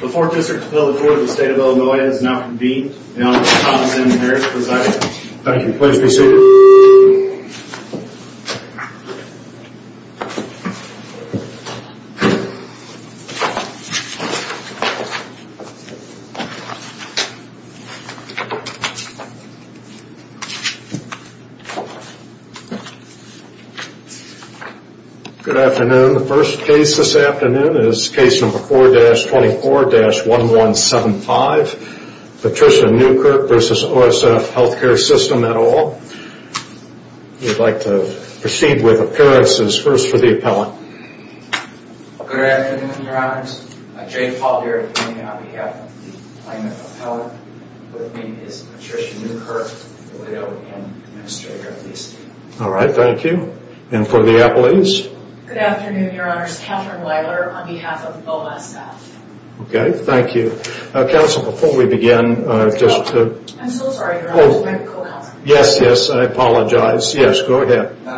The 4th District Appellate Court of the State of Illinois has now convened. The Honorable Thomas M. Harris presiding. Thank you. Please be seated. Good afternoon. The first case this afternoon is case number 4-24-1175, Patricia Nieukirk v. OSF Health Care System et al. We'd like to proceed with appearances first for the appellant. Good afternoon, Your Honors. Jay Paulding on behalf of the plaintiff's appellant, with me is Patricia Nieukirk, the widow and administrator of the estate. All right, thank you. And for the appellees? Good afternoon, Your Honors. Catherine Weiler on behalf of OSF. Okay, thank you. Counsel, before we begin, just to... I'm so sorry, Your Honor. I'm a co-counselor. Yes, yes, I apologize. Yes, go ahead. Good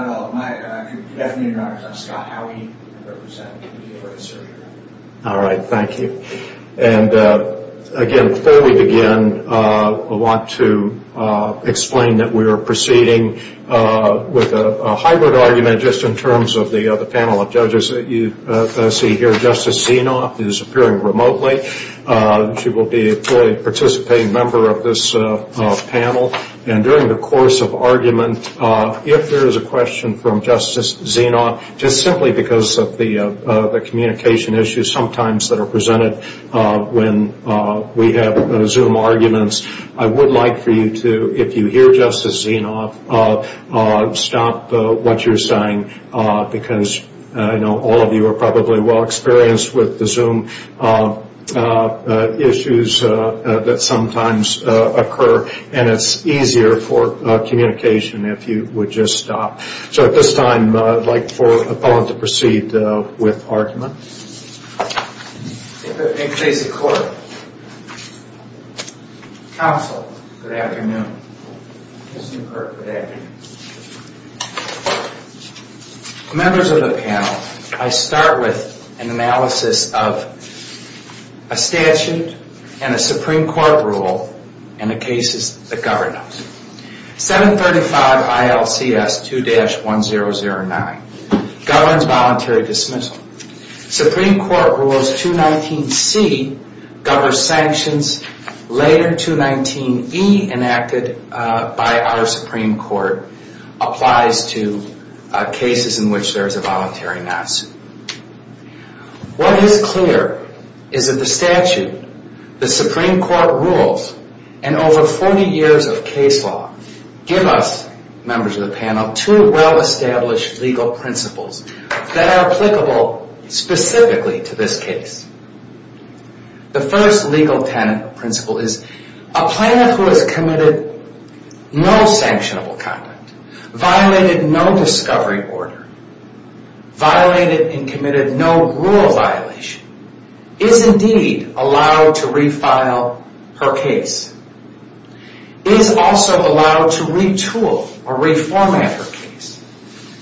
afternoon, Your Honors. I'm Scott Howey. I represent the appellate circuit. All right, thank you. And again, before we begin, I want to explain that we are proceeding with a hybrid argument just in terms of the panel of judges that you see here. Justice Zinov is appearing remotely. She will be a participating member of this panel. And during the course of argument, if there is a question from Justice Zinov, just simply because of the communication issues sometimes that are presented when we have Zoom arguments, I would like for you to, if you hear Justice Zinov, stop what you're saying because I know all of you are probably well-experienced with the Zoom issues that sometimes occur, and it's easier for communication if you would just stop. So at this time, I'd like for the appellant to proceed with argument. In case of court. Counsel, good afternoon. Justice Newkirk, good afternoon. Members of the panel, I start with an analysis of a statute and a Supreme Court rule in the cases that govern us. 735 ILCS 2-1009 governs voluntary dismissal. Supreme Court rules 219C governs sanctions. Later, 219E enacted by our Supreme Court applies to cases in which there is a voluntary not-suit. What is clear is that the statute, the Supreme Court rules, and over 40 years of case law give us, members of the panel, two well-established legal principles that are applicable specifically to this case. The first legal principle is a plaintiff who has committed no sanctionable conduct, violated no discovery order, violated and committed no rule violation, is indeed allowed to refile her case, is also allowed to retool or reformat her case.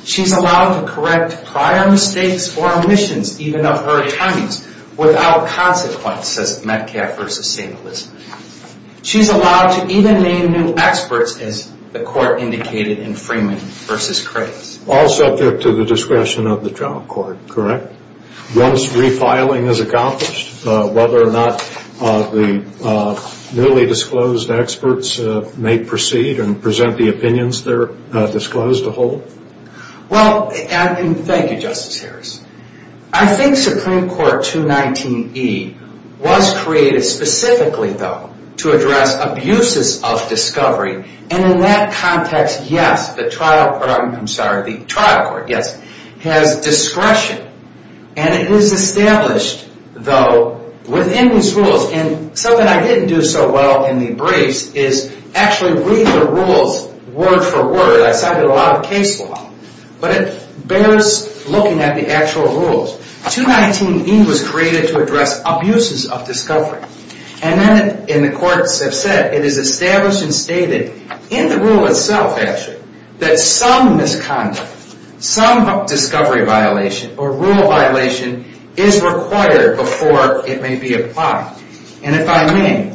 She's allowed to correct prior mistakes or omissions, even of her attorneys, without consequence, says Metcalfe v. St. Elizabeth. She's allowed to even name new experts, as the court indicated in Freeman v. Craig. All subject to the discretion of the general court, correct? Once refiling is accomplished, whether or not the newly disclosed experts may proceed and present the opinions they're disclosed to hold? Well, thank you, Justice Harris. I think Supreme Court 219E was created specifically, though, to address abuses of discovery. And in that context, yes, the trial court has discretion. And it is established, though, within these rules. And something I didn't do so well in the briefs is actually read the rules word for word. I cited a lot of case law. But it bears looking at the actual rules. 219E was created to address abuses of discovery. And then, and the courts have said, it is established and stated in the rule itself, actually, that some misconduct, some discovery violation or rule violation is required before it may be applied. And if I may,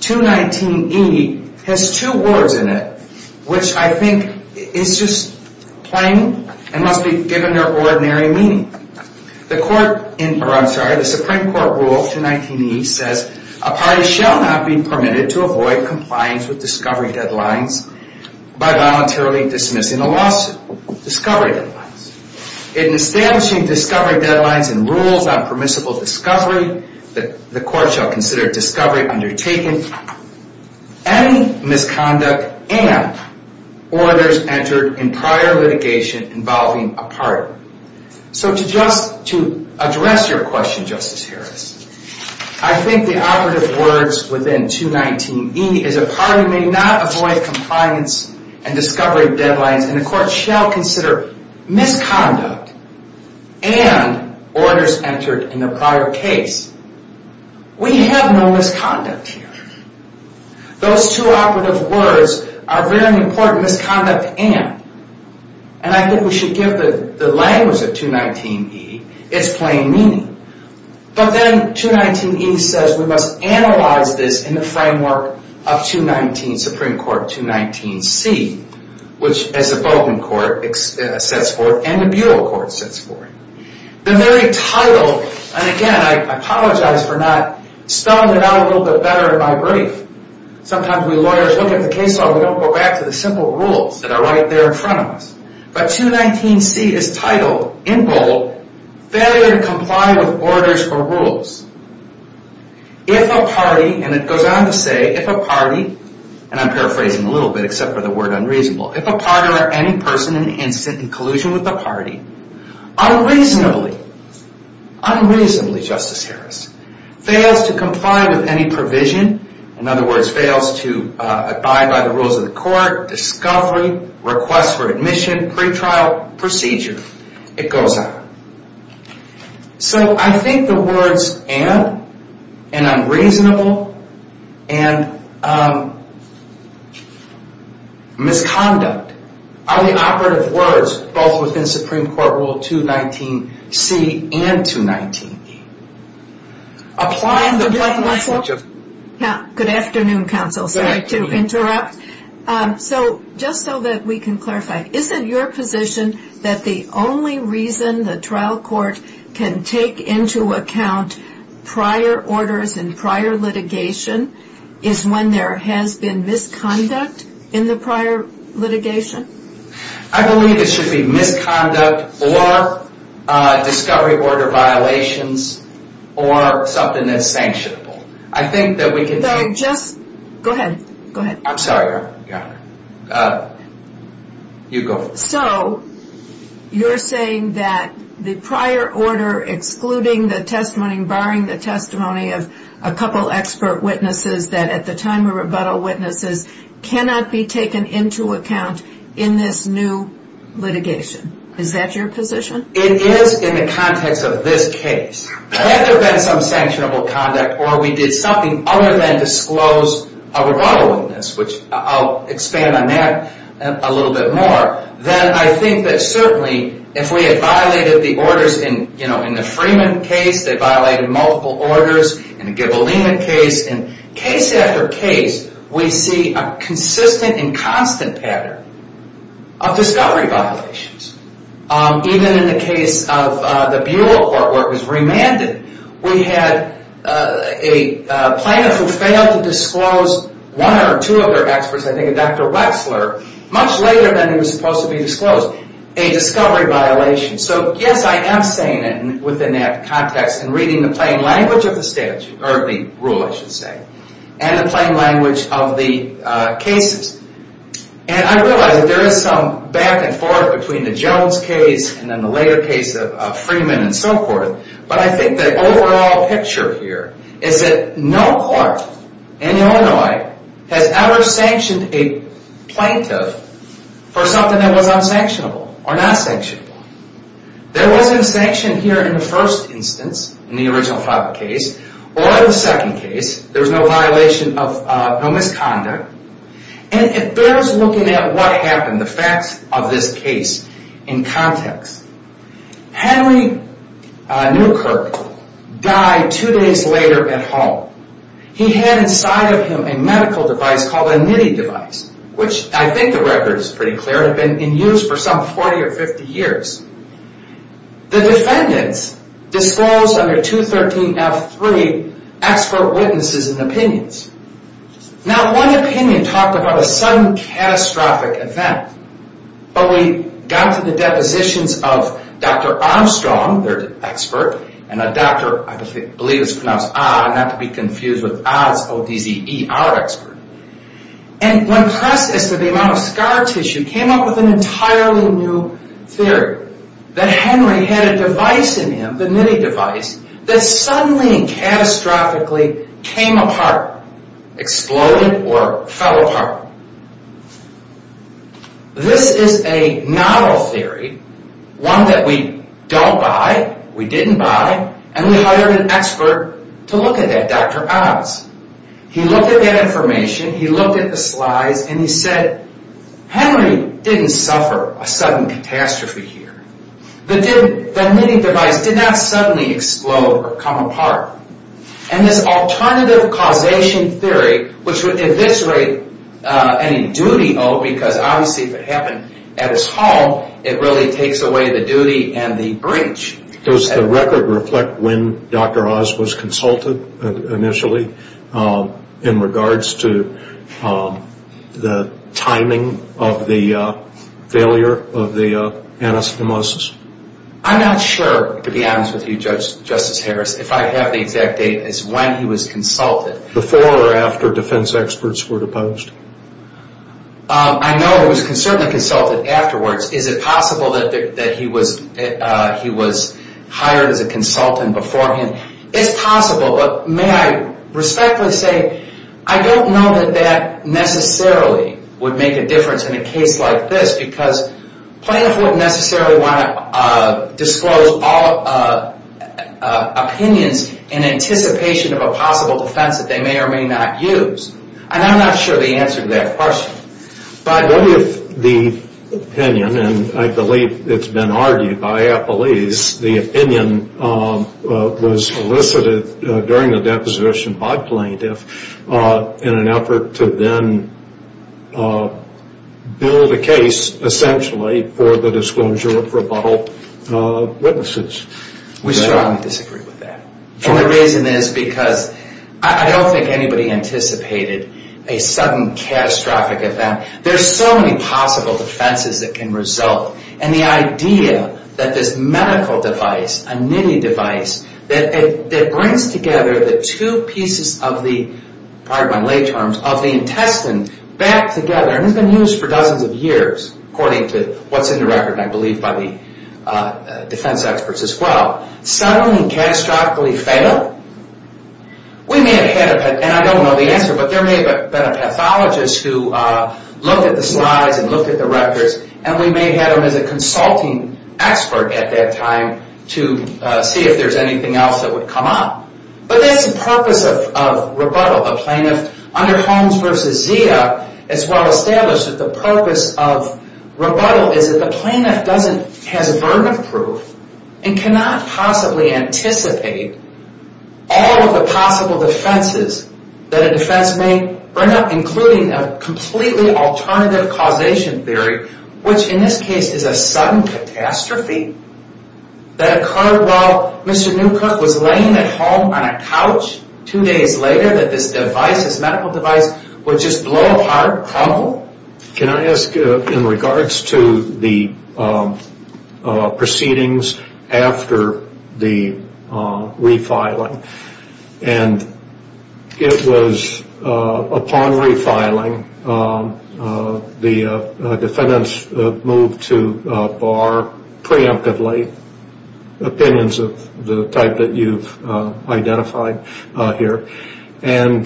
219E has two words in it, which I think is just plain and must be given their ordinary meaning. The Supreme Court rule 219E says, a party shall not be permitted to avoid compliance with discovery deadlines by voluntarily dismissing a lawsuit. Discovery deadlines. In establishing discovery deadlines and rules on permissible discovery, the court shall consider discovery undertaken any misconduct and orders entered in prior litigation involving a party. So to address your question, Justice Harris, I think the operative words within 219E is a party may not avoid compliance and discovery deadlines and the court shall consider misconduct and orders entered in the prior case. We have no misconduct here. Those two operative words are very important. Misconduct and. And I think we should give the language of 219E its plain meaning. But then 219E says we must analyze this in the framework of 219 Supreme Court 219C, which as a Bowdoin court sets forth and a Buol court sets forth. The very title, and again, I apologize for not spelling it out a little bit better in my brief. Sometimes we lawyers look at the case law and we don't go back to the simple rules that are right there in front of us. But 219C is titled, in bold, failure to comply with orders or rules. If a party, and it goes on to say, if a party, and I'm paraphrasing a little bit except for the word unreasonable, if a party or any person in incident in collusion with the party, unreasonably, unreasonably, Justice Harris, fails to comply with any provision. In other words, fails to abide by the rules of the court, discovery, request for admission, pretrial procedure. It goes on. So I think the words and, and unreasonable, and misconduct, are the operative words both within Supreme Court Rule 219C and 219E. Applying the. Good afternoon counsel, sorry to interrupt. So just so that we can clarify, isn't your position that the only reason the trial court can take into account prior orders and prior litigation is when there has been misconduct in the prior litigation? I believe it should be misconduct or discovery order violations or something that's sanctionable. I think that we can. So just go ahead, go ahead. I'm sorry. You go. So you're saying that the prior order excluding the testimony, barring the testimony of a couple expert witnesses that at the time of rebuttal witnesses cannot be taken into account in this new litigation. Is that your position? It is in the context of this case. Had there been some sanctionable conduct or we did something other than disclose a rebuttal witness, which I'll expand on that a little bit more, then I think that certainly if we had violated the orders in, you know, in the Freeman case, they violated multiple orders, in the Gibalina case, in case after case we see a consistent and constant pattern of discovery violations. Even in the case of the Buell court where it was remanded, we had a plaintiff who failed to disclose one or two of their experts, I think a Dr. Wexler, much later than it was supposed to be disclosed, a discovery violation. So yes, I am saying it within that context and reading the plain language of the statute, or the rule I should say, and the plain language of the cases. And I realize that there is some back and forth between the Jones case and then the later case of Freeman and so forth, but I think the overall picture here is that no court in Illinois has ever sanctioned a plaintiff for something that was unsanctionable or not sanctionable. There wasn't a sanction here in the first instance, in the original Faber case, or the second case, there was no violation of, no misconduct. And it bears looking at what happened, the facts of this case in context. Henry Newkirk died two days later at home. He had inside of him a medical device called a NITI device, which I think the record is pretty clear, had been in use for some 40 or 50 years. The defendants disclosed under 213F3 expert witnesses and opinions. Now one opinion talked about a sudden catastrophic event, but we got to the depositions of Dr. Armstrong, their expert, and a doctor I believe is pronounced Ah, not to be confused with Ah, it's O-D-Z-E, our expert. And when processed, the amount of scar tissue came up with an entirely new theory, that Henry had a device in him, the NITI device, that suddenly and catastrophically came apart, exploded or fell apart. This is a novel theory, one that we don't buy, we didn't buy, and we hired an expert to look at that, Dr. Ahs. He looked at that information, he looked at the slides, and he said, Henry didn't suffer a sudden catastrophe here. The NITI device did not suddenly explode or come apart. And this alternative causation theory, which would eviscerate any duty owed, because obviously if it happened at his home, it really takes away the duty and the breach. Does the record reflect when Dr. Ahs was consulted initially, in regards to the timing of the failure of the anastomosis? I'm not sure, to be honest with you, Justice Harris, if I have the exact date as to when he was consulted. Before or after defense experts were deposed? I know he was certainly consulted afterwards. Is it possible that he was hired as a consultant beforehand? It's possible, but may I respectfully say, I don't know that that necessarily would make a difference in a case like this, because plaintiffs wouldn't necessarily want to disclose all opinions in anticipation of a possible defense that they may or may not use. And I'm not sure the answer to that question. What if the opinion, and I believe it's been argued by appellees, the opinion was elicited during the deposition by plaintiffs in an effort to then build a case, essentially, for the disclosure of rebuttal witnesses? We strongly disagree with that. And the reason is because I don't think anybody anticipated a sudden catastrophic event. There's so many possible defenses that can result, and the idea that this medical device, a nitty device, that brings together the two pieces of the, pardon my late terms, of the intestine back together, and it's been used for dozens of years, according to what's in the record, and I believe by the defense experts as well, suddenly catastrophically fail? We may have had a, and I don't know the answer, but there may have been a pathologist who looked at the slides and looked at the records, and we may have had him as a consulting expert at that time to see if there's anything else that would come up. But that's the purpose of rebuttal. The plaintiff, under Holmes v. Zia, it's well established that the purpose of rebuttal is that the plaintiff has a burden of proof and cannot possibly anticipate all of the possible defenses that a defense may bring up, including a completely alternative causation theory, which in this case is a sudden catastrophe that occurred while Mr. Newkirk was laying at home on a couch two days later that this device, this medical device, would just blow apart, crumble? Can I ask, in regards to the proceedings after the refiling, and it was upon refiling the defendants moved to bar preemptively, opinions of the type that you've identified here, and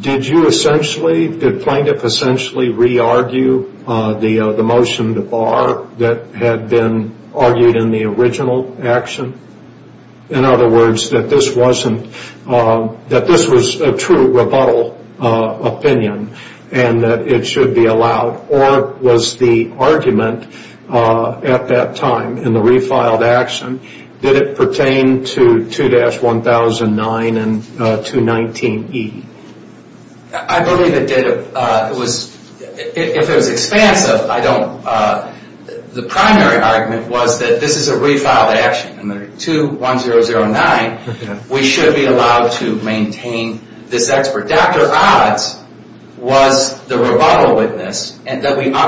did you essentially, did plaintiff essentially re-argue the motion to bar that had been argued in the original action? In other words, that this wasn't, that this was a true rebuttal opinion and that it should be allowed, or was the argument at that time in the refiled action, did it pertain to 2-1009 and 2-19E? I believe it did. It was, if it was expansive, I don't, the primary argument was that this is a refiled action. In the 2-1009, we should be allowed to maintain this expert. Dr. Odds was the rebuttal witness, and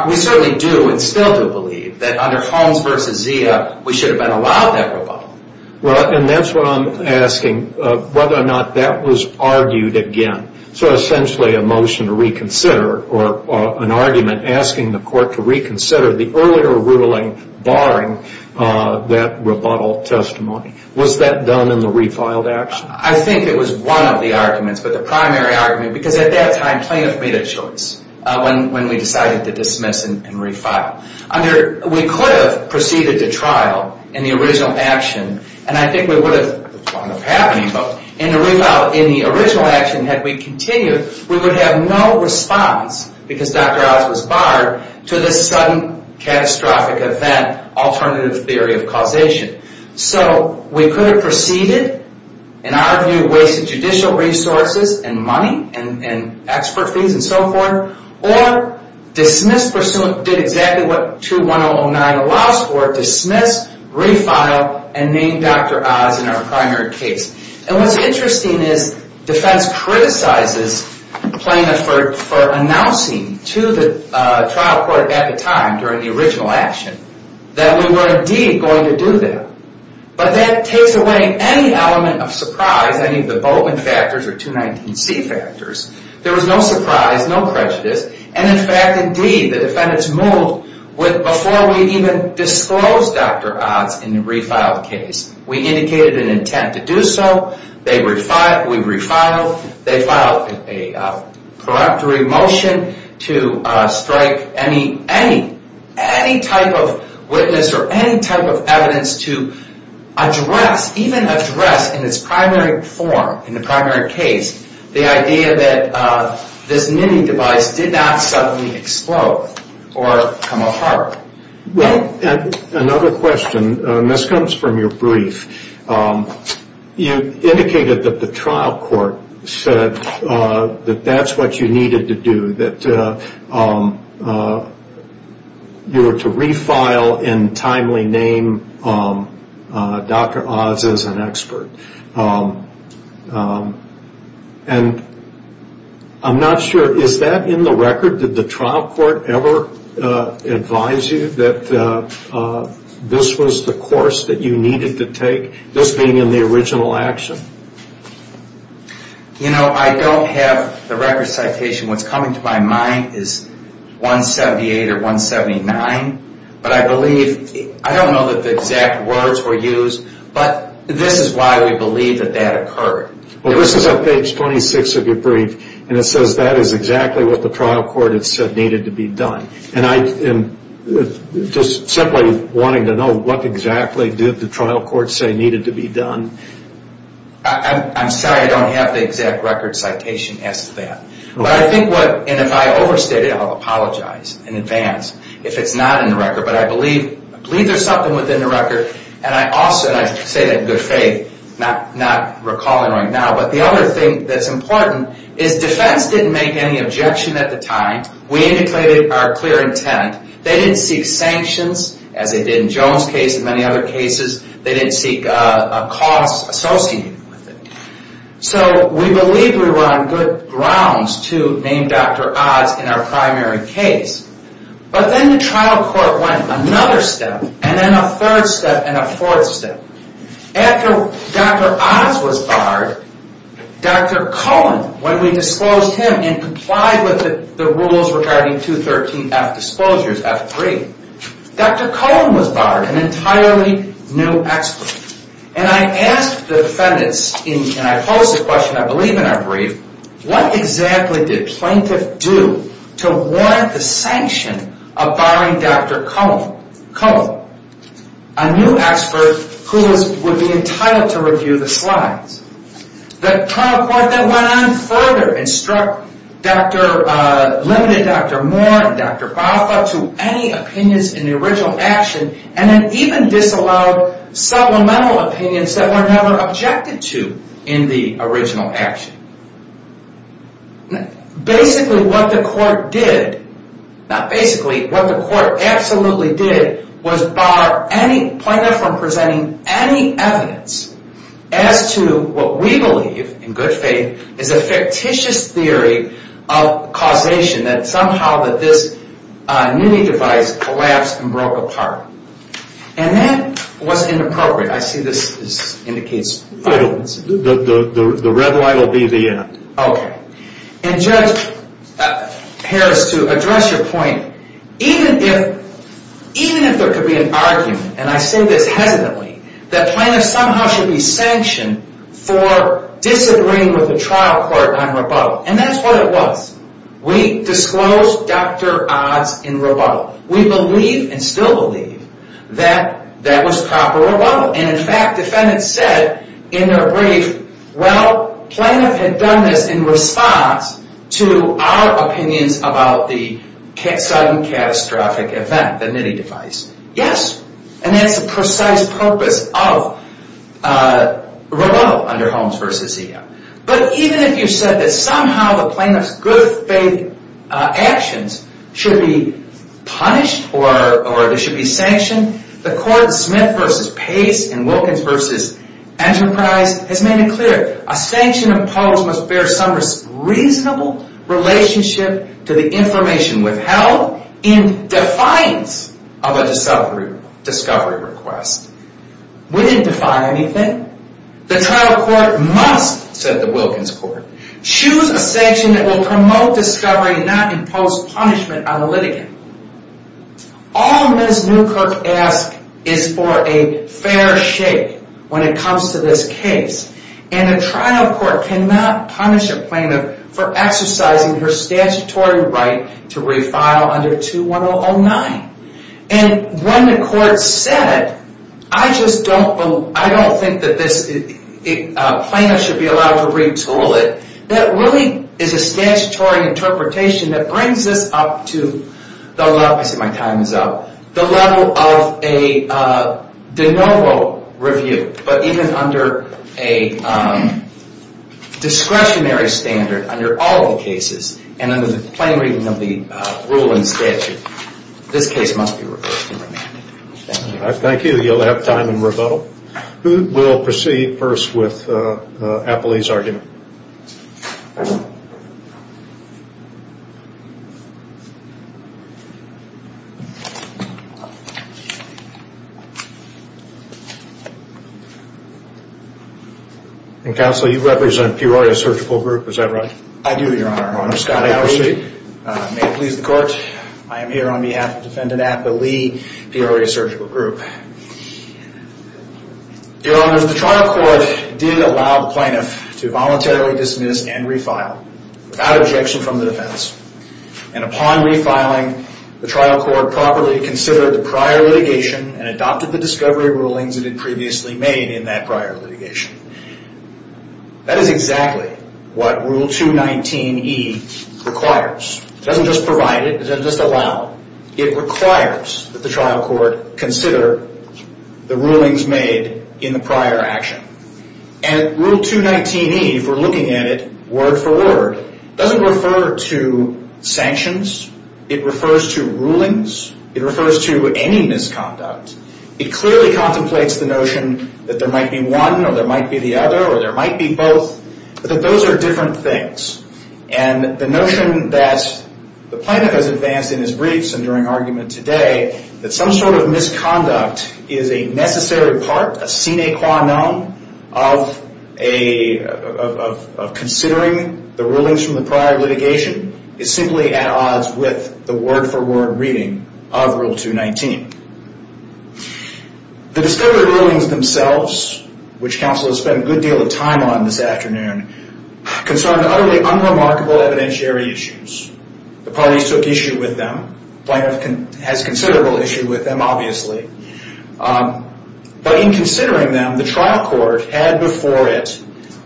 we certainly do and still do believe that under Holmes v. Zia, we should have been allowed that rebuttal. Well, and that's what I'm asking, whether or not that was argued again, so essentially a motion to reconsider or an argument asking the court to reconsider the earlier ruling barring that rebuttal testimony. Was that done in the refiled action? I think it was one of the arguments, but the primary argument, because at that time plaintiff made a choice when we decided to dismiss and refile. We could have proceeded to trial in the original action, and I think we would have, in the original action, had we continued, we would have no response, because Dr. Odds was barred, to this sudden catastrophic event, alternative theory of causation. So we could have proceeded, in our view, wasted judicial resources and money and expert fees and so forth, or dismissed, did exactly what 2109 allows for, dismissed, refiled, and named Dr. Odds in our primary case. And what's interesting is defense criticizes plaintiff for announcing to the trial court at the time, during the original action, that we were indeed going to do that. But that takes away any element of surprise, any of the Boltman factors or 219C factors. There was no surprise, no prejudice. And in fact, indeed, the defendants moved with, before we even disclosed Dr. Odds in the refiled case, we indicated an intent to do so, they refiled, we refiled, they filed a preemptory motion to strike any type of witness or any type of evidence to address, even address in its primary form, in the primary case, the idea that this mini-device did not suddenly explode or come apart. Well, another question, and this comes from your brief, you indicated that the trial court said that that's what you needed to do, that you were to refile and timely name Dr. Odds as an expert. And I'm not sure, is that in the record? Did the trial court ever advise you that this was the course that you needed to take, this being in the original action? You know, I don't have the record citation. What's coming to my mind is 178 or 179, but I believe, I don't know that the exact words were used, but this is why we believe that that occurred. Well, this is on page 26 of your brief, and it says that is exactly what the trial court had said needed to be done. And just simply wanting to know what exactly did the trial court say needed to be done? I'm sorry, I don't have the exact record citation as to that. But I think what, and if I overstated it, I'll apologize in advance if it's not in the record, but I believe there's something within the record, and I also, and I say that in good faith, not recalling right now, but the other thing that's important is defense didn't make any objection at the time. We indicated our clear intent. They didn't seek sanctions, as they did in Joan's case and many other cases. They didn't seek a cost associated with it. So we believe we were on good grounds to name Dr. Oz in our primary case. But then the trial court went another step, and then a third step, and a fourth step. After Dr. Oz was barred, Dr. Cullen, when we disclosed him and complied with the rules regarding 213F disposures, F3, Dr. Cullen was barred, an entirely new expert. And I asked the defendants, and I posed the question I believe in our brief, what exactly did plaintiff do to warrant the sanction of barring Dr. Cullen, a new expert who would be entitled to review the slides? The trial court then went on further and struck limited Dr. Moore and Dr. Balfa to any opinions in the original action, and then even disallowed supplemental opinions that were never objected to in the original action. Basically what the court did, not basically, what the court absolutely did was bar any plaintiff from presenting any evidence as to what we believe, in good faith, is a fictitious theory of causation that somehow that this new device collapsed and broke apart. And that was inappropriate. I see this indicates violence. The red light will be the end. Okay. And Judge Harris, to address your point, even if there could be an argument, and I say this hesitantly, that plaintiffs somehow should be sanctioned for disagreeing with the trial court on rebuttal. And that's what it was. We disclosed Dr. Odds in rebuttal. We believe, and still believe, that that was proper rebuttal. And in fact, defendants said in their brief, well, plaintiff had done this in response to our opinions about the sudden catastrophic event, the NITI device. Yes. And that's the precise purpose of rebuttal under Holmes v. Zia. But even if you said that somehow the plaintiff's good faith actions should be punished, or they should be sanctioned, the court Smith v. Pace and Wilkins v. Enterprise has made it clear a sanction imposed must bear some reasonable relationship to the information withheld in defiance of a discovery request. We didn't defy anything. The trial court must, said the Wilkins court, choose a sanction that will promote discovery and not impose punishment on a litigant. All Ms. Newkirk asks is for a fair shake when it comes to this case. And a trial court cannot punish a plaintiff for exercising her statutory right to refile under 2-1009. And when the court said, I just don't believe, I don't think that this plaintiff should be allowed to retool it, that really is a statutory interpretation that brings us up to the level, I see my time is up, the level of a de novo review. But even under a discretionary standard, under all the cases, and under the plain reading of the rule and statute, this case must be reversed and remanded. Thank you. I thank you. You'll have time in rebuttal. Who will proceed first with Apolli's argument? Counsel, you represent Peoria Surgical Group, is that right? I do, Your Honor. May it please the court. I am here on behalf of Defendant Apolli, Peoria Surgical Group. Your Honor, the trial court did allow the plaintiff to voluntarily dismiss and refile, without objection from the defense. And upon refiling, the trial court properly considered the prior litigation and adopted the discovery rulings it had previously made in that prior litigation. That is exactly what Rule 219E requires. It doesn't just provide it, it doesn't just allow. It requires that the trial court consider the rulings made in the prior action. And Rule 219E, if we're looking at it word for word, doesn't refer to sanctions. It refers to rulings. It refers to any misconduct. It clearly contemplates the notion that there might be one or there might be the other or there might be both, but that those are different things. And the notion that the plaintiff has advanced in his briefs and during argument today that some sort of misconduct is a necessary part, a sine qua non, of considering the rulings from the prior litigation, is simply at odds with the word for word reading of Rule 219. The discovery rulings themselves, which counsel has spent a good deal of time on this afternoon, concern utterly unremarkable evidentiary issues. The parties took issue with them. The plaintiff has considerable issue with them, obviously. But in considering them, the trial court had before it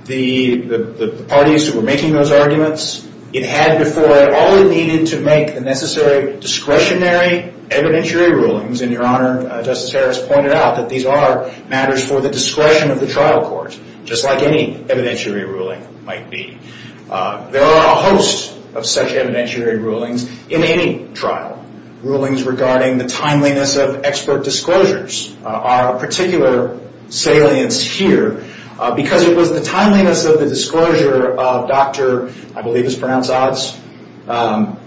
the parties who were making those arguments. It had before it all it needed to make the necessary discretionary evidentiary rulings, and Your Honor, Justice Harris pointed out that these are matters for the discretion of the trial court, just like any evidentiary ruling might be. There are a host of such evidentiary rulings in any trial. Rulings regarding the timeliness of expert disclosures are of particular salience here because it was the timeliness of the disclosure of Dr., I believe it's pronounced Odds,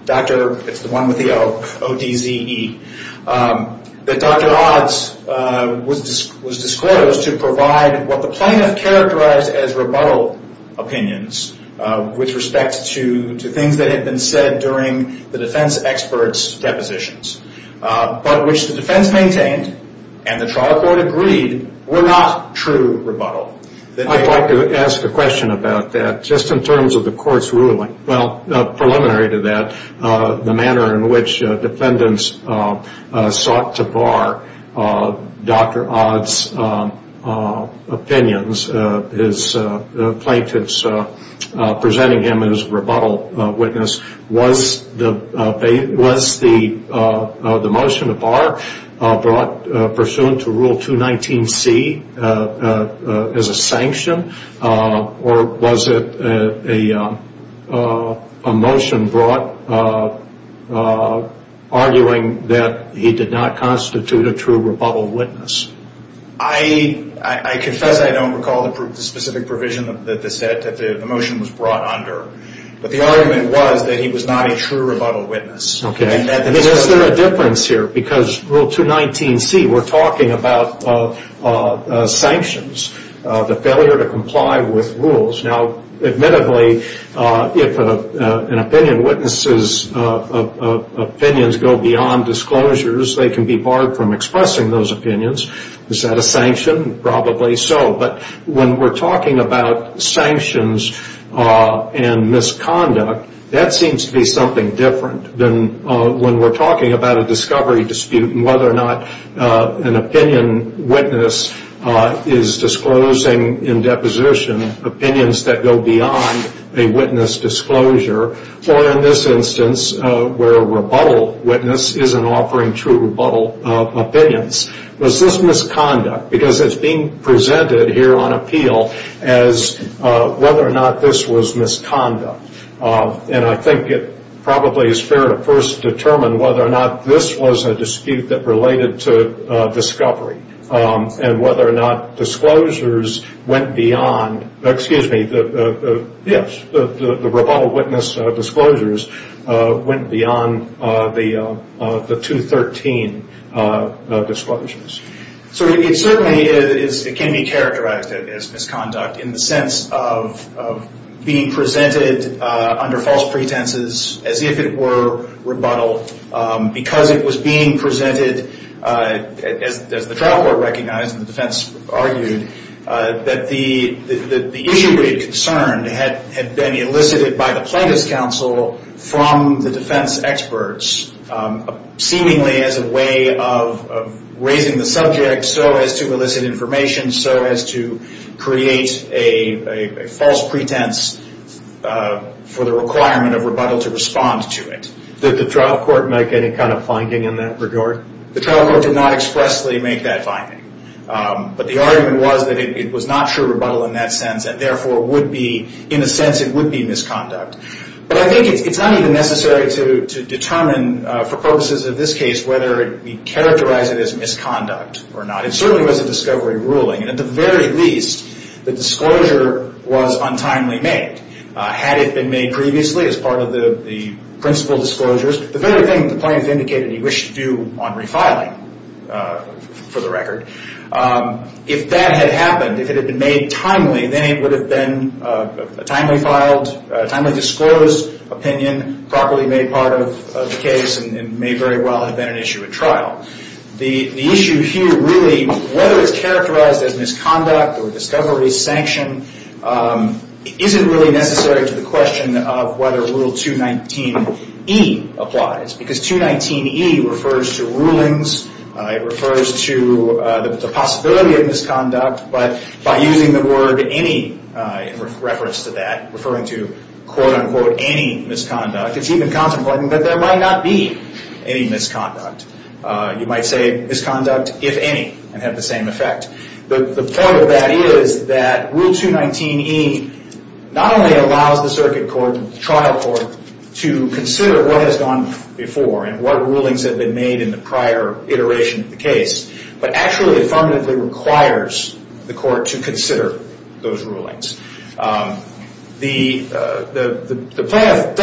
Dr., it's the one with the O, O-D-Z-E, that Dr. Odds was disclosed to provide what the plaintiff characterized as rebuttal opinions with respect to things that had been said during the defense expert's depositions, but which the defense maintained and the trial court agreed were not true rebuttal. I'd like to ask a question about that, just in terms of the court's ruling. Well, preliminary to that, the manner in which defendants sought to bar Dr. Odds' opinions, his plaintiffs presenting him as a rebuttal witness, was the motion to bar brought pursuant to Rule 219C as a sanction, or was it a motion brought arguing that he did not constitute a true rebuttal witness? I confess I don't recall the specific provision that the motion was brought under, but the argument was that he was not a true rebuttal witness. Okay. Is there a difference here? Because Rule 219C, we're talking about sanctions, the failure to comply with rules. Now, admittedly, if an opinion witnesses opinions go beyond disclosures, they can be barred from expressing those opinions. Is that a sanction? Probably so. But when we're talking about sanctions and misconduct, that seems to be something different than when we're talking about a discovery dispute and whether or not an opinion witness is disclosing in deposition opinions that go beyond a witness disclosure, or in this instance, where a rebuttal witness isn't offering true rebuttal opinions. Was this misconduct? Because it's being presented here on appeal as whether or not this was misconduct. And I think it probably is fair to first determine whether or not this was a dispute that related to discovery and whether or not the rebuttal witness disclosures went beyond the 213 disclosures. So it certainly can be characterized as misconduct in the sense of being presented under false pretenses as if it were rebuttal because it was being presented, as the trial court recognized and the defense argued, that the issue being concerned had been elicited by the plaintiff's counsel from the defense experts, seemingly as a way of raising the subject so as to elicit information, so as to create a false pretense for the requirement of rebuttal to respond to it. Did the trial court make any kind of finding in that regard? The trial court did not expressly make that finding. But the argument was that it was not true rebuttal in that sense, and therefore would be, in a sense, it would be misconduct. But I think it's not even necessary to determine, for purposes of this case, whether we characterize it as misconduct or not. It certainly was a discovery ruling, and at the very least, the disclosure was untimely made. Had it been made previously as part of the principal disclosures, the very thing the plaintiff indicated he wished to do on refiling, for the record, if that had happened, if it had been made timely, then it would have been a timely filed, a timely disclosed opinion properly made part of the case and may very well have been an issue at trial. The issue here really, whether it's characterized as misconduct or discovery sanction, isn't really necessary to the question of whether Rule 219E applies, because 219E refers to rulings, it refers to the possibility of misconduct, but by using the word any in reference to that, referring to quote-unquote any misconduct, it's even contemplating that there might not be any misconduct. You might say misconduct if any, and have the same effect. The point of that is that Rule 219E not only allows the circuit court and the trial court to consider what has gone before and what rulings have been made in the prior iteration of the case, but actually affirmatively requires the court to consider those rulings. The plaintiff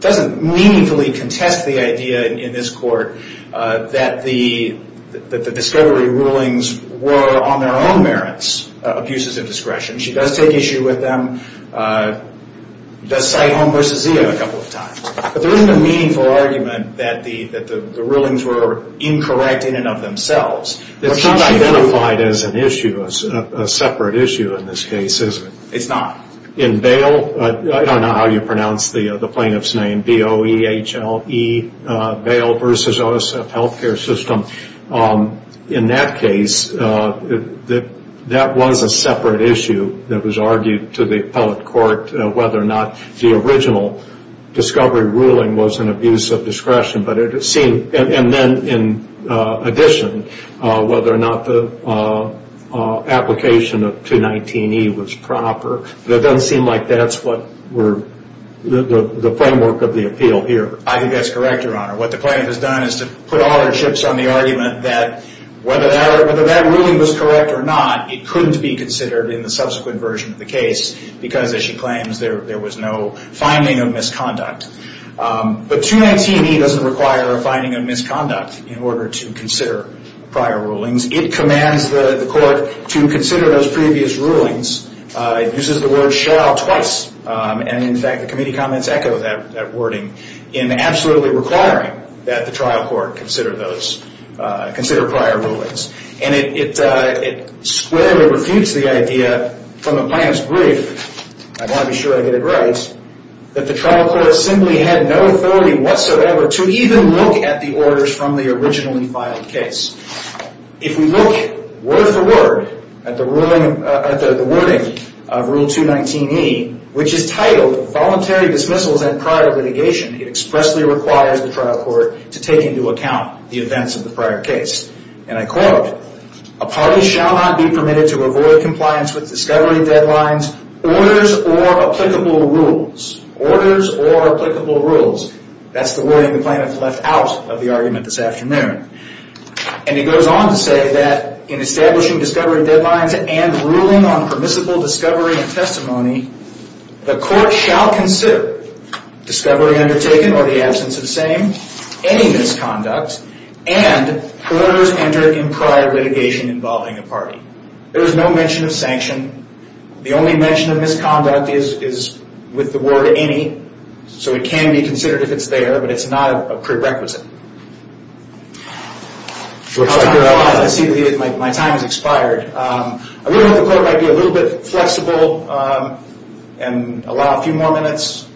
doesn't meaningfully contest the idea in this court that the discovery rulings were on their own merits, abuses of discretion. She does take issue with them, does cite home versus Zia a couple of times. But there isn't a meaningful argument that the rulings were incorrect in and of themselves. It's not identified as an issue, as a separate issue in this case, is it? It's not. In Bale, I don't know how you pronounce the plaintiff's name, B-O-E-H-L-E, Bale versus OSF Healthcare System. In that case, that was a separate issue that was argued to the appellate court whether or not the original discovery ruling was an abuse of discretion. And then in addition, whether or not the application of 219E was proper. It doesn't seem like that's the framework of the appeal here. I think that's correct, Your Honor. What the plaintiff has done is to put all her chips on the argument that whether that ruling was correct or not, it couldn't be considered in the subsequent version of the case because, as she claims, there was no finding of misconduct. But 219E doesn't require a finding of misconduct in order to consider prior rulings. It commands the court to consider those previous rulings. It uses the word shall twice. And, in fact, the committee comments echo that wording in absolutely requiring that the trial court consider prior rulings. And it squarely refutes the idea from the plaintiff's brief, I want to be sure I get it right, that the trial court simply had no authority whatsoever to even look at the orders from the originally filed case. If we look word for word at the wording of Rule 219E, which is titled Voluntary Dismissals and Prior Litigation, it expressly requires the trial court to take into account the events of the prior case. And I quote, A party shall not be permitted to avoid compliance with discovery deadlines, orders, or applicable rules. Orders or applicable rules. That's the wording the plaintiff left out of the argument this afternoon. And it goes on to say that in establishing discovery deadlines and ruling on permissible discovery and testimony, the court shall consider discovery undertaken or the absence of same, any misconduct, and orders entered in prior litigation involving a party. There is no mention of sanction. The only mention of misconduct is with the word any. So it can be considered if it's there, but it's not a prerequisite. My time has expired. I really hope the court might be a little bit flexible and allow a few more minutes.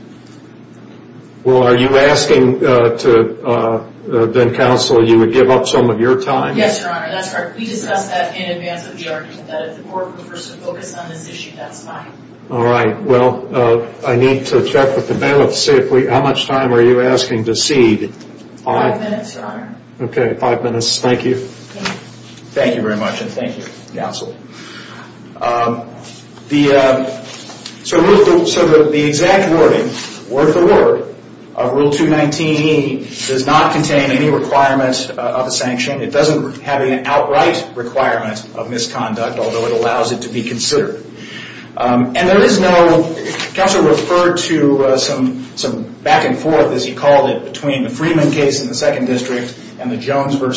Well, are you asking then, counsel, you would give up some of your time? Yes, Your Honor, that's correct. We discussed that in advance of the argument, that if the court prefers to focus on this issue, that's fine. All right. Well, I need to check with the bailiff to see how much time are you asking to cede? Five minutes, Your Honor. Okay, five minutes. Thank you. Thank you very much, and thank you, counsel. So the exact wording, word for word, of Rule 219E does not contain any requirement of a sanction. It doesn't have an outright requirement of misconduct, although it allows it to be considered. And there is no, counsel referred to some back and forth, as he called it, between the Freeman case in the Second District and the Jones v.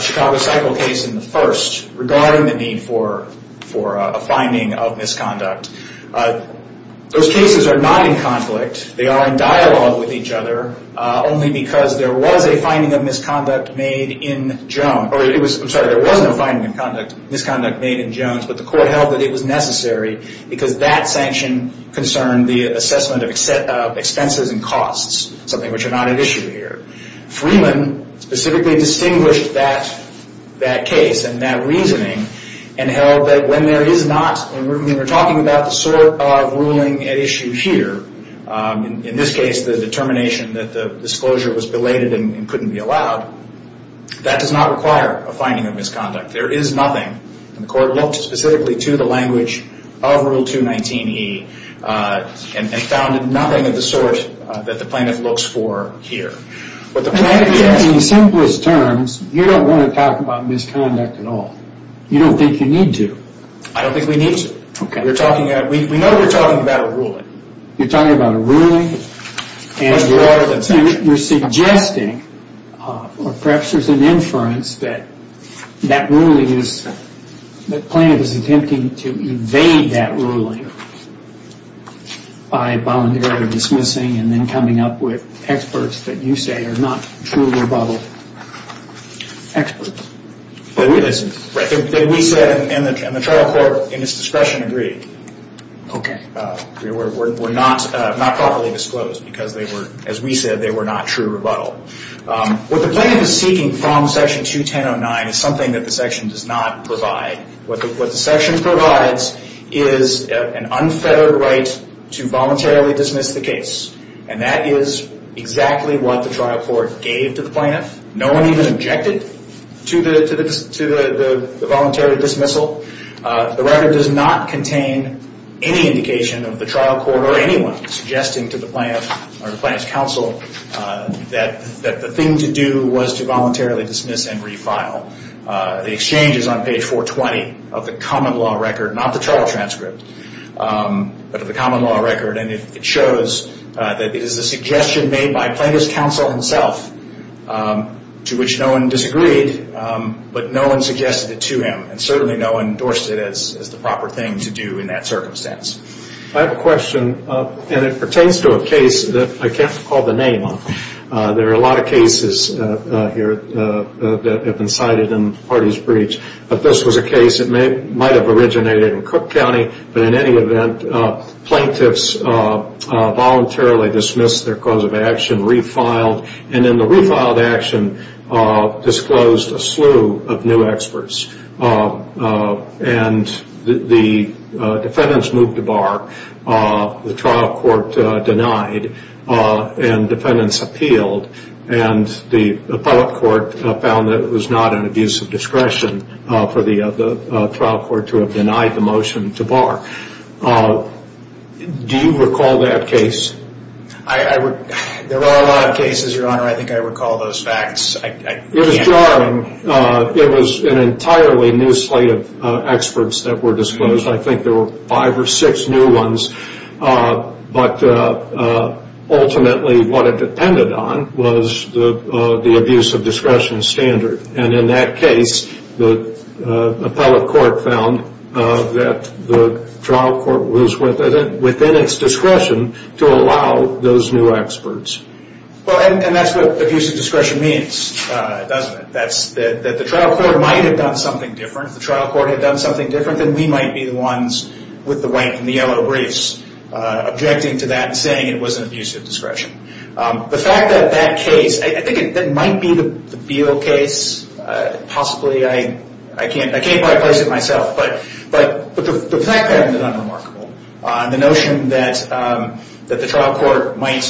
Chicago Cycle case in the First, regarding the need for a finding of misconduct. Those cases are not in conflict. They are in dialogue with each other, only because there was a finding of misconduct made in Jones. I'm sorry, there was no finding of misconduct made in Jones, but the court held that it was necessary because that sanction concerned the assessment of expenses and costs, something which are not at issue here. Freeman specifically distinguished that case and that reasoning and held that when there is not, when we're talking about the sort of ruling at issue here, in this case the determination that the disclosure was belated and couldn't be allowed, that does not require a finding of misconduct. There is nothing, and the court looked specifically to the language of Rule 219E and found nothing of the sort that the plaintiff looks for here. In simplest terms, you don't want to talk about misconduct at all. You don't think you need to. I don't think we need to. We know we're talking about a ruling. You're talking about a ruling. Much broader than that. You're suggesting, or perhaps there's an inference, that that ruling is, that the plaintiff is attempting to evade that ruling by voluntarily dismissing and then coming up with experts that you say are not true rebuttal experts. We said, and the trial court in its discretion agreed, were not properly disclosed because they were, as we said, they were not true rebuttal. What the plaintiff is seeking from Section 21009 is something that the section does not provide. What the section provides is an unfettered right to voluntarily dismiss the case, and that is exactly what the trial court gave to the plaintiff. No one even objected to the voluntary dismissal. The record does not contain any indication of the trial court or anyone suggesting to the plaintiff or the plaintiff's counsel that the thing to do was to voluntarily dismiss and refile. The exchange is on page 420 of the common law record, not the trial transcript, but of the common law record, and it shows that it is a suggestion made by plaintiff's counsel himself, to which no one disagreed, but no one suggested it to him, and certainly no one endorsed it as the proper thing to do in that circumstance. I have a question, and it pertains to a case that I can't recall the name of. There are a lot of cases here that have been cited in the parties' breach, but this was a case that might have originated in Cook County, but in any event, plaintiffs voluntarily dismissed their cause of action, refiled, and in the refiled action disclosed a slew of new experts, and the defendants moved to bar. The trial court denied, and defendants appealed, and the appellate court found that it was not an abuse of discretion for the trial court to have denied the motion to bar. Do you recall that case? There are a lot of cases, Your Honor. I think I recall those facts. It was jarring. It was an entirely new slate of experts that were disclosed. I think there were five or six new ones, but ultimately what it depended on was the abuse of discretion standard, and in that case the appellate court found that the trial court was within its discretion to allow those new experts. Well, and that's what abuse of discretion means, doesn't it? That the trial court might have done something different. If the trial court had done something different, then we might be the ones with the white and the yellow briefs objecting to that and saying it was an abuse of discretion. The fact that that case, I think it might be the Beal case. Possibly. I can't quite place it myself, but the fact of it is unremarkable. The notion that the trial court might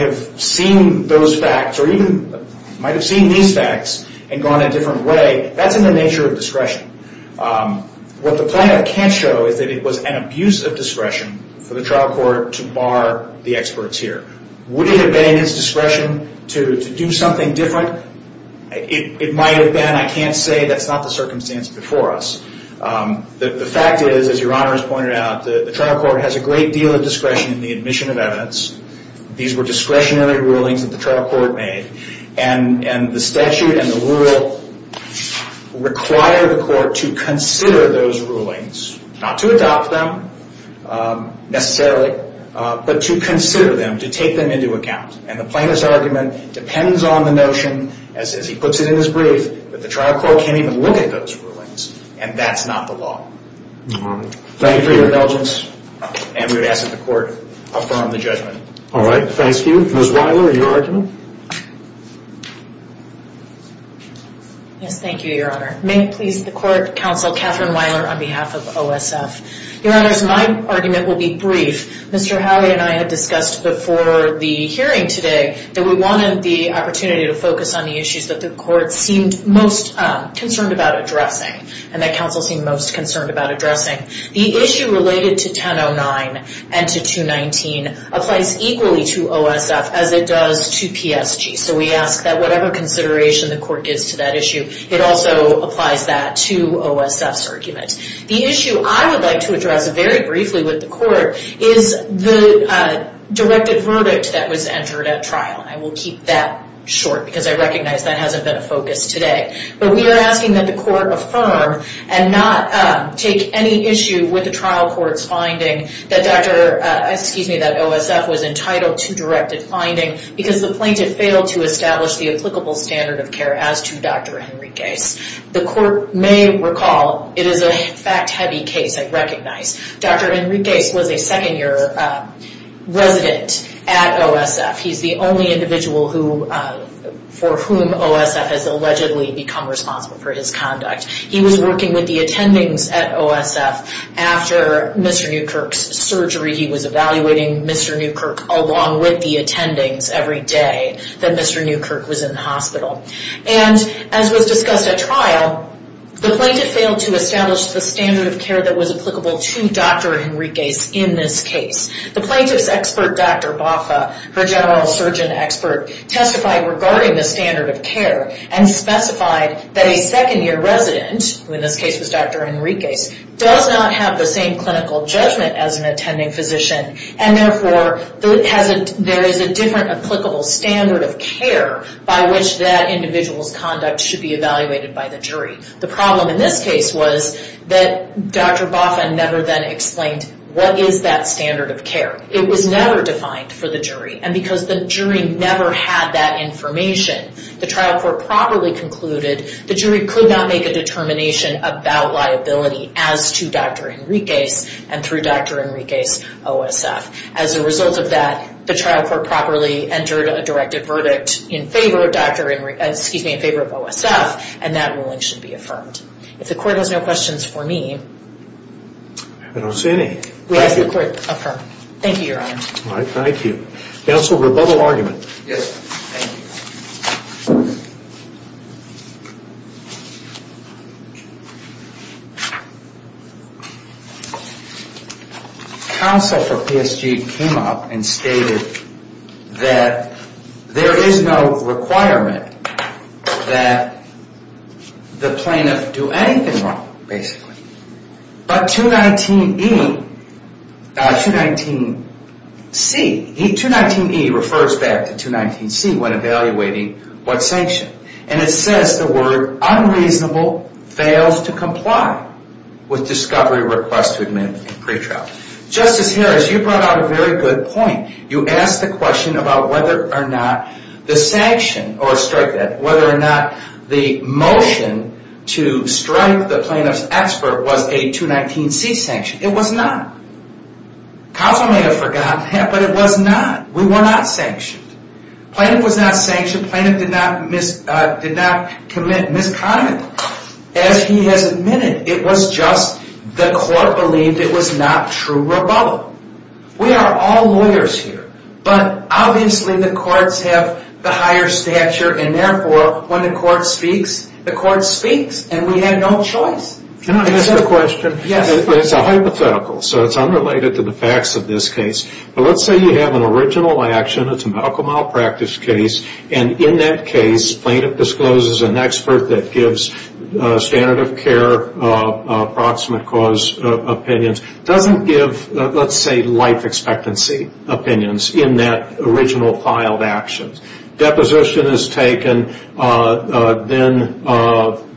have seen those facts or even might have seen these facts and gone a different way, that's in the nature of discretion. What the plaintiff can't show is that it was an abuse of discretion for the trial court to bar the experts here. Would it have been in its discretion to do something different? It might have been. I can't say. That's not the circumstance before us. The fact is, as Your Honor has pointed out, the trial court has a great deal of discretion in the admission of evidence. These were discretionary rulings that the trial court made, and the statute and the rule require the court to consider those rulings. Not to adopt them, necessarily, but to consider them, to take them into account. And the plaintiff's argument depends on the notion, as he puts it in his brief, that the trial court can't even look at those rulings, and that's not the law. Thank you for your indulgence. And we would ask that the court affirm the judgment. All right. Thank you. Ms. Weiler, your argument? Yes, thank you, Your Honor. May it please the Court, Counsel Kathryn Weiler on behalf of OSF. Your Honors, my argument will be brief. Mr. Howley and I had discussed before the hearing today that we wanted the opportunity to focus on the issues that the court seemed most concerned about addressing, and that counsel seemed most concerned about addressing. The issue related to 1009 and to 219 applies equally to OSF as it does to PSG. So we ask that whatever consideration the court gives to that issue, it also applies that to OSF's argument. The issue I would like to address very briefly with the court is the directed verdict that was entered at trial. I will keep that short because I recognize that hasn't been a focus today. But we are asking that the court affirm and not take any issue with the trial court's finding that OSF was entitled to directed finding because the plaintiff failed to establish the applicable standard of care as to Dr. Henriquez. The court may recall it is a fact-heavy case, I recognize. Dr. Henriquez was a second-year resident at OSF. He's the only individual for whom OSF has allegedly become responsible for his conduct. He was working with the attendings at OSF. After Mr. Newkirk's surgery, he was evaluating Mr. Newkirk along with the attendings every day that Mr. Newkirk was in the hospital. And as was discussed at trial, the plaintiff failed to establish the standard of care that was applicable to Dr. Henriquez in this case. The plaintiff's expert, Dr. Boffa, her general surgeon expert, testified regarding the standard of care and specified that a second-year resident, who in this case was Dr. Henriquez, does not have the same clinical judgment as an attending physician and therefore there is a different applicable standard of care by which that individual's conduct should be evaluated by the jury. The problem in this case was that Dr. Boffa never then explained what is that standard of care. It was never defined for the jury and because the jury never had that information, the trial court properly concluded the jury could not make a determination about liability as to Dr. Henriquez and through Dr. Henriquez OSF. As a result of that, the trial court properly entered a directed verdict in favor of OSF and that ruling should be affirmed. If the court has no questions for me... I don't see any. We ask that the court affirm. Thank you, Your Honor. All right, thank you. Counsel, rebuttal argument. Yes, thank you. Counsel for PSG came up and stated that there is no requirement that the plaintiff do anything wrong, basically. But 219E, 219C... 219E refers back to 219C when evaluating what's sanctioned. And it says the word unreasonable fails to comply with discovery request to admit pretrial. Justice Harris, you brought out a very good point. You asked the question about whether or not the sanction or strike that, was a 219C sanction. It was not. Counsel may have forgotten that, but it was not. We were not sanctioned. Plaintiff was not sanctioned. Plaintiff did not commit misconduct. As he has admitted, it was just the court believed it was not true rebuttal. We are all lawyers here, but obviously the courts have the higher stature and therefore when the court speaks, the court speaks and we have no choice. Can I ask a question? Yes. It's a hypothetical, so it's unrelated to the facts of this case. But let's say you have an original action, it's a medical malpractice case, and in that case, plaintiff discloses an expert that gives standard of care, approximate cause opinions, doesn't give, let's say, life expectancy opinions in that original filed action. Deposition is taken, then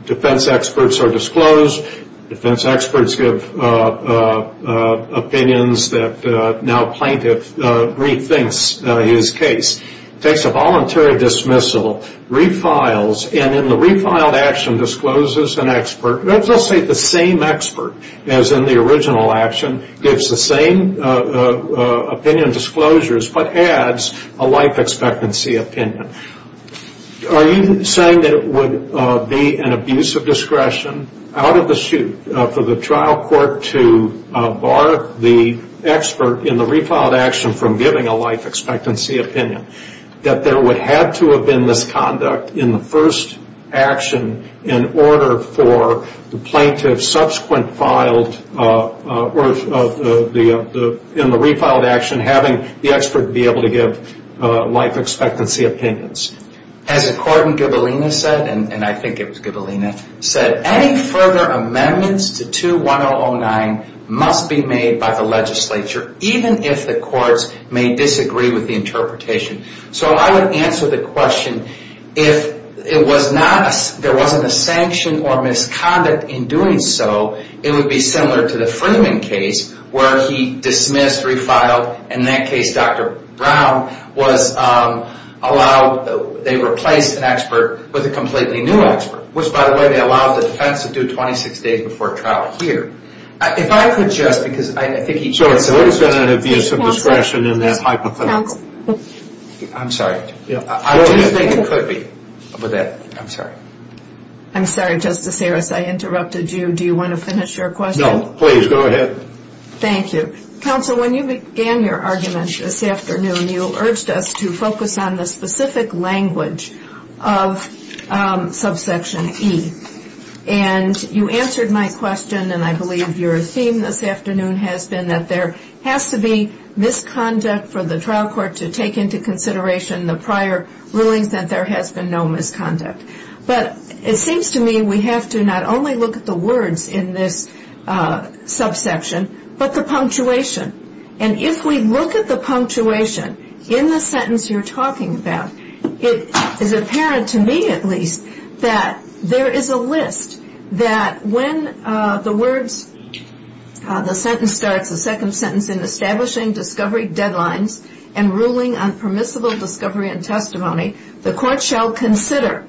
defense experts are disclosed, defense experts give opinions that now plaintiff rethinks his case. Takes a voluntary dismissal, refiles, and in the refiled action discloses an expert, let's just say the same expert as in the original action, gives the same opinion disclosures but adds a life expectancy opinion. Are you saying that it would be an abuse of discretion out of the chute for the trial court to bar the expert in the refiled action from giving a life expectancy opinion, that there would have to have been this conduct in the first action in order for the plaintiff subsequent filed or in the refiled action having the expert be able to give life expectancy opinions? As the court in Gubelina said, and I think it was Gubelina, said, any further amendments to 2-1009 must be made by the legislature, even if the courts may disagree with the interpretation. So I would answer the question, if there wasn't a sanction or misconduct in doing so, it would be similar to the Freeman case where he dismissed, refiled, and in that case Dr. Brown was allowed, they replaced an expert with a completely new expert, which by the way, they allowed the defense to do 26 days before trial here. If I could just, because I think each of us... I'm sorry. I don't think it could be. I'm sorry. I'm sorry, Justice Harris, I interrupted you. Do you want to finish your question? No, please, go ahead. Thank you. Counsel, when you began your argument this afternoon, you urged us to focus on the specific language of subsection E. And you answered my question, and I believe your theme this afternoon has been that there has to be misconduct for the trial court to take into consideration the prior rulings, that there has been no misconduct. But it seems to me we have to not only look at the words in this subsection, but the punctuation. And if we look at the punctuation in the sentence you're talking about, it is apparent to me at least that there is a list that when the sentence starts, the second sentence, in establishing discovery deadlines and ruling on permissible discovery and testimony, the court shall consider.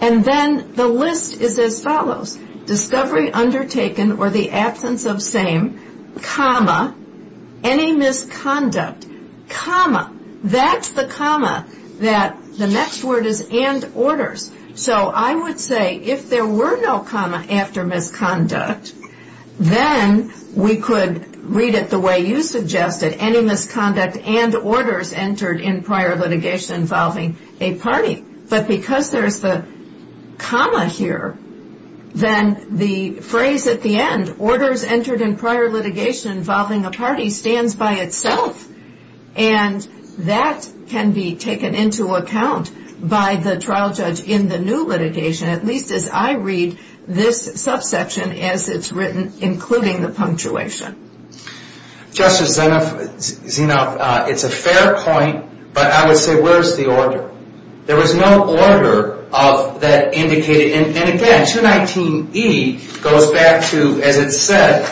And then the list is as follows. Discovery undertaken or the absence of same, comma, any misconduct, comma. That's the comma that the next word is and orders. So I would say if there were no comma after misconduct, then we could read it the way you suggested, any misconduct and orders entered in prior litigation involving a party. But because there's the comma here, then the phrase at the end, orders entered in prior litigation involving a party, stands by itself. And that can be taken into account by the trial judge in the new litigation, at least as I read this subsection as it's written, including the punctuation. Justice Zenoff, it's a fair point, but I would say where's the order? There was no order of that indicated. And again, 219E goes back to, as it said,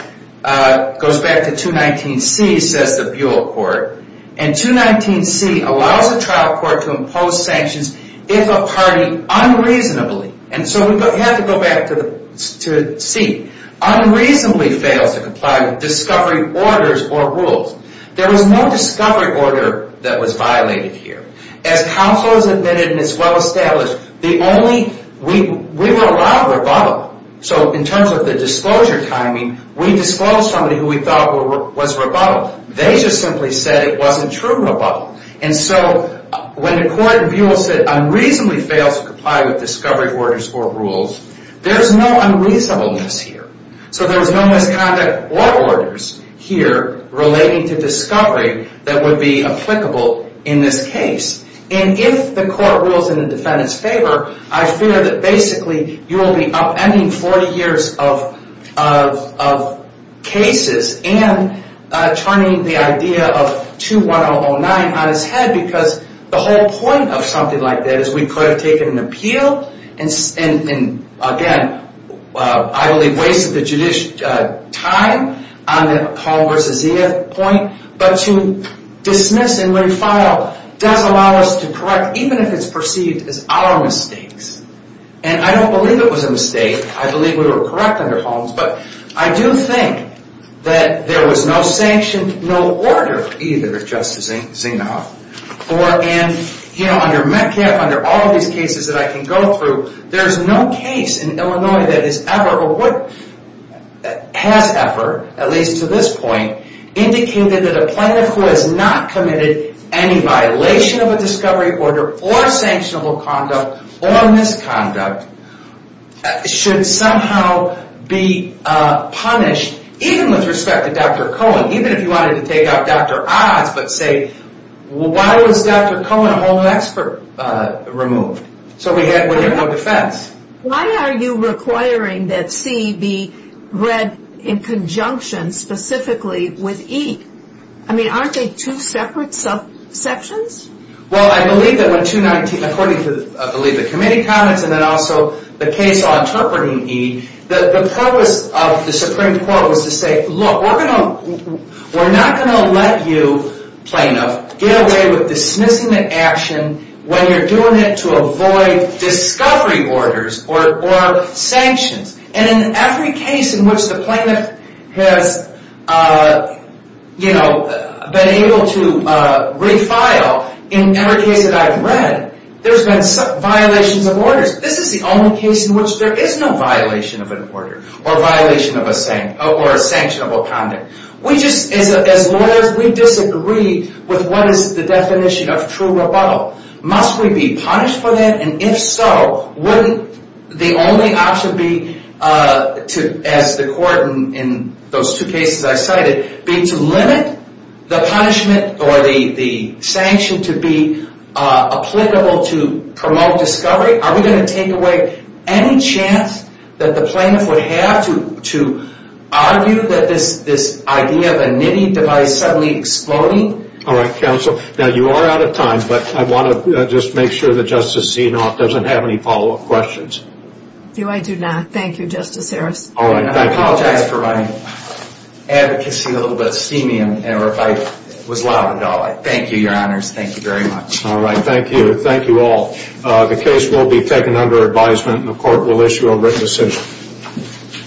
goes back to 219C, says the Buol Court. And 219C allows a trial court to impose sanctions if a party unreasonably, and so we have to go back to C, unreasonably fails to comply with discovery orders or rules. There was no discovery order that was violated here. As counsel has admitted and it's well established, we were allowed rebuttal. So in terms of the disclosure timing, we disclosed somebody who we thought was rebuttal. They just simply said it wasn't true rebuttal. And so when the court in Buol said unreasonably fails to comply with discovery orders or rules, there's no unreasonableness here. So there was no misconduct or orders here relating to discovery that would be applicable in this case. And if the court rules in the defendant's favor, I fear that basically you will be upending 40 years of cases and turning the idea of 21009 on its head because the whole point of something like that is we could have taken an appeal and, again, I believe wasted the judicial time on the Holmes versus Zia point, but to dismiss and re-file does allow us to correct even if it's perceived as our mistakes. And I don't believe it was a mistake. I believe we were correct under Holmes, but I do think that there was no sanction, no order either, and, you know, under Metcalfe, under all of these cases that I can go through, there's no case in Illinois that has ever, at least to this point, indicated that a plaintiff who has not committed any violation of a discovery order or sanctionable conduct or misconduct should somehow be punished, even with respect to Dr. Cohen, even if you wanted to take out Dr. Oz, but say, well, why was Dr. Cohen, a Holmes expert, removed? So we get more defense. Why are you requiring that C be read in conjunction specifically with E? I mean, aren't they two separate subsections? Well, I believe that when 219, according to, I believe, the committee comments and then also the case interpreting E, the purpose of the Supreme Court was to say, look, we're not going to let you, plaintiff, get away with dismissing the action when you're doing it to avoid discovery orders or sanctions. And in every case in which the plaintiff has, you know, been able to refile, in every case that I've read, there's been violations of orders. This is the only case in which there is no violation of an order or a violation of a sanctionable conduct. We just, as lawyers, we disagree with what is the definition of true rebuttal. Must we be punished for that? And if so, wouldn't the only option be to, as the court in those two cases I cited, be to limit the punishment or the sanction to be applicable to promote discovery? Are we going to take away any chance that the plaintiff would have to argue that this idea of a nitty device suddenly exploding? All right, counsel. Now, you are out of time, but I want to just make sure that Justice Zinoff doesn't have any follow-up questions. Do I do not? Thank you, Justice Harris. All right. I apologize for my advocacy, a little bit steamy, or if I was loud and dull. Thank you, Your Honors. Thank you very much. All right, thank you. Thank you all. The case will be taken under advisement, and the court will issue a written decision.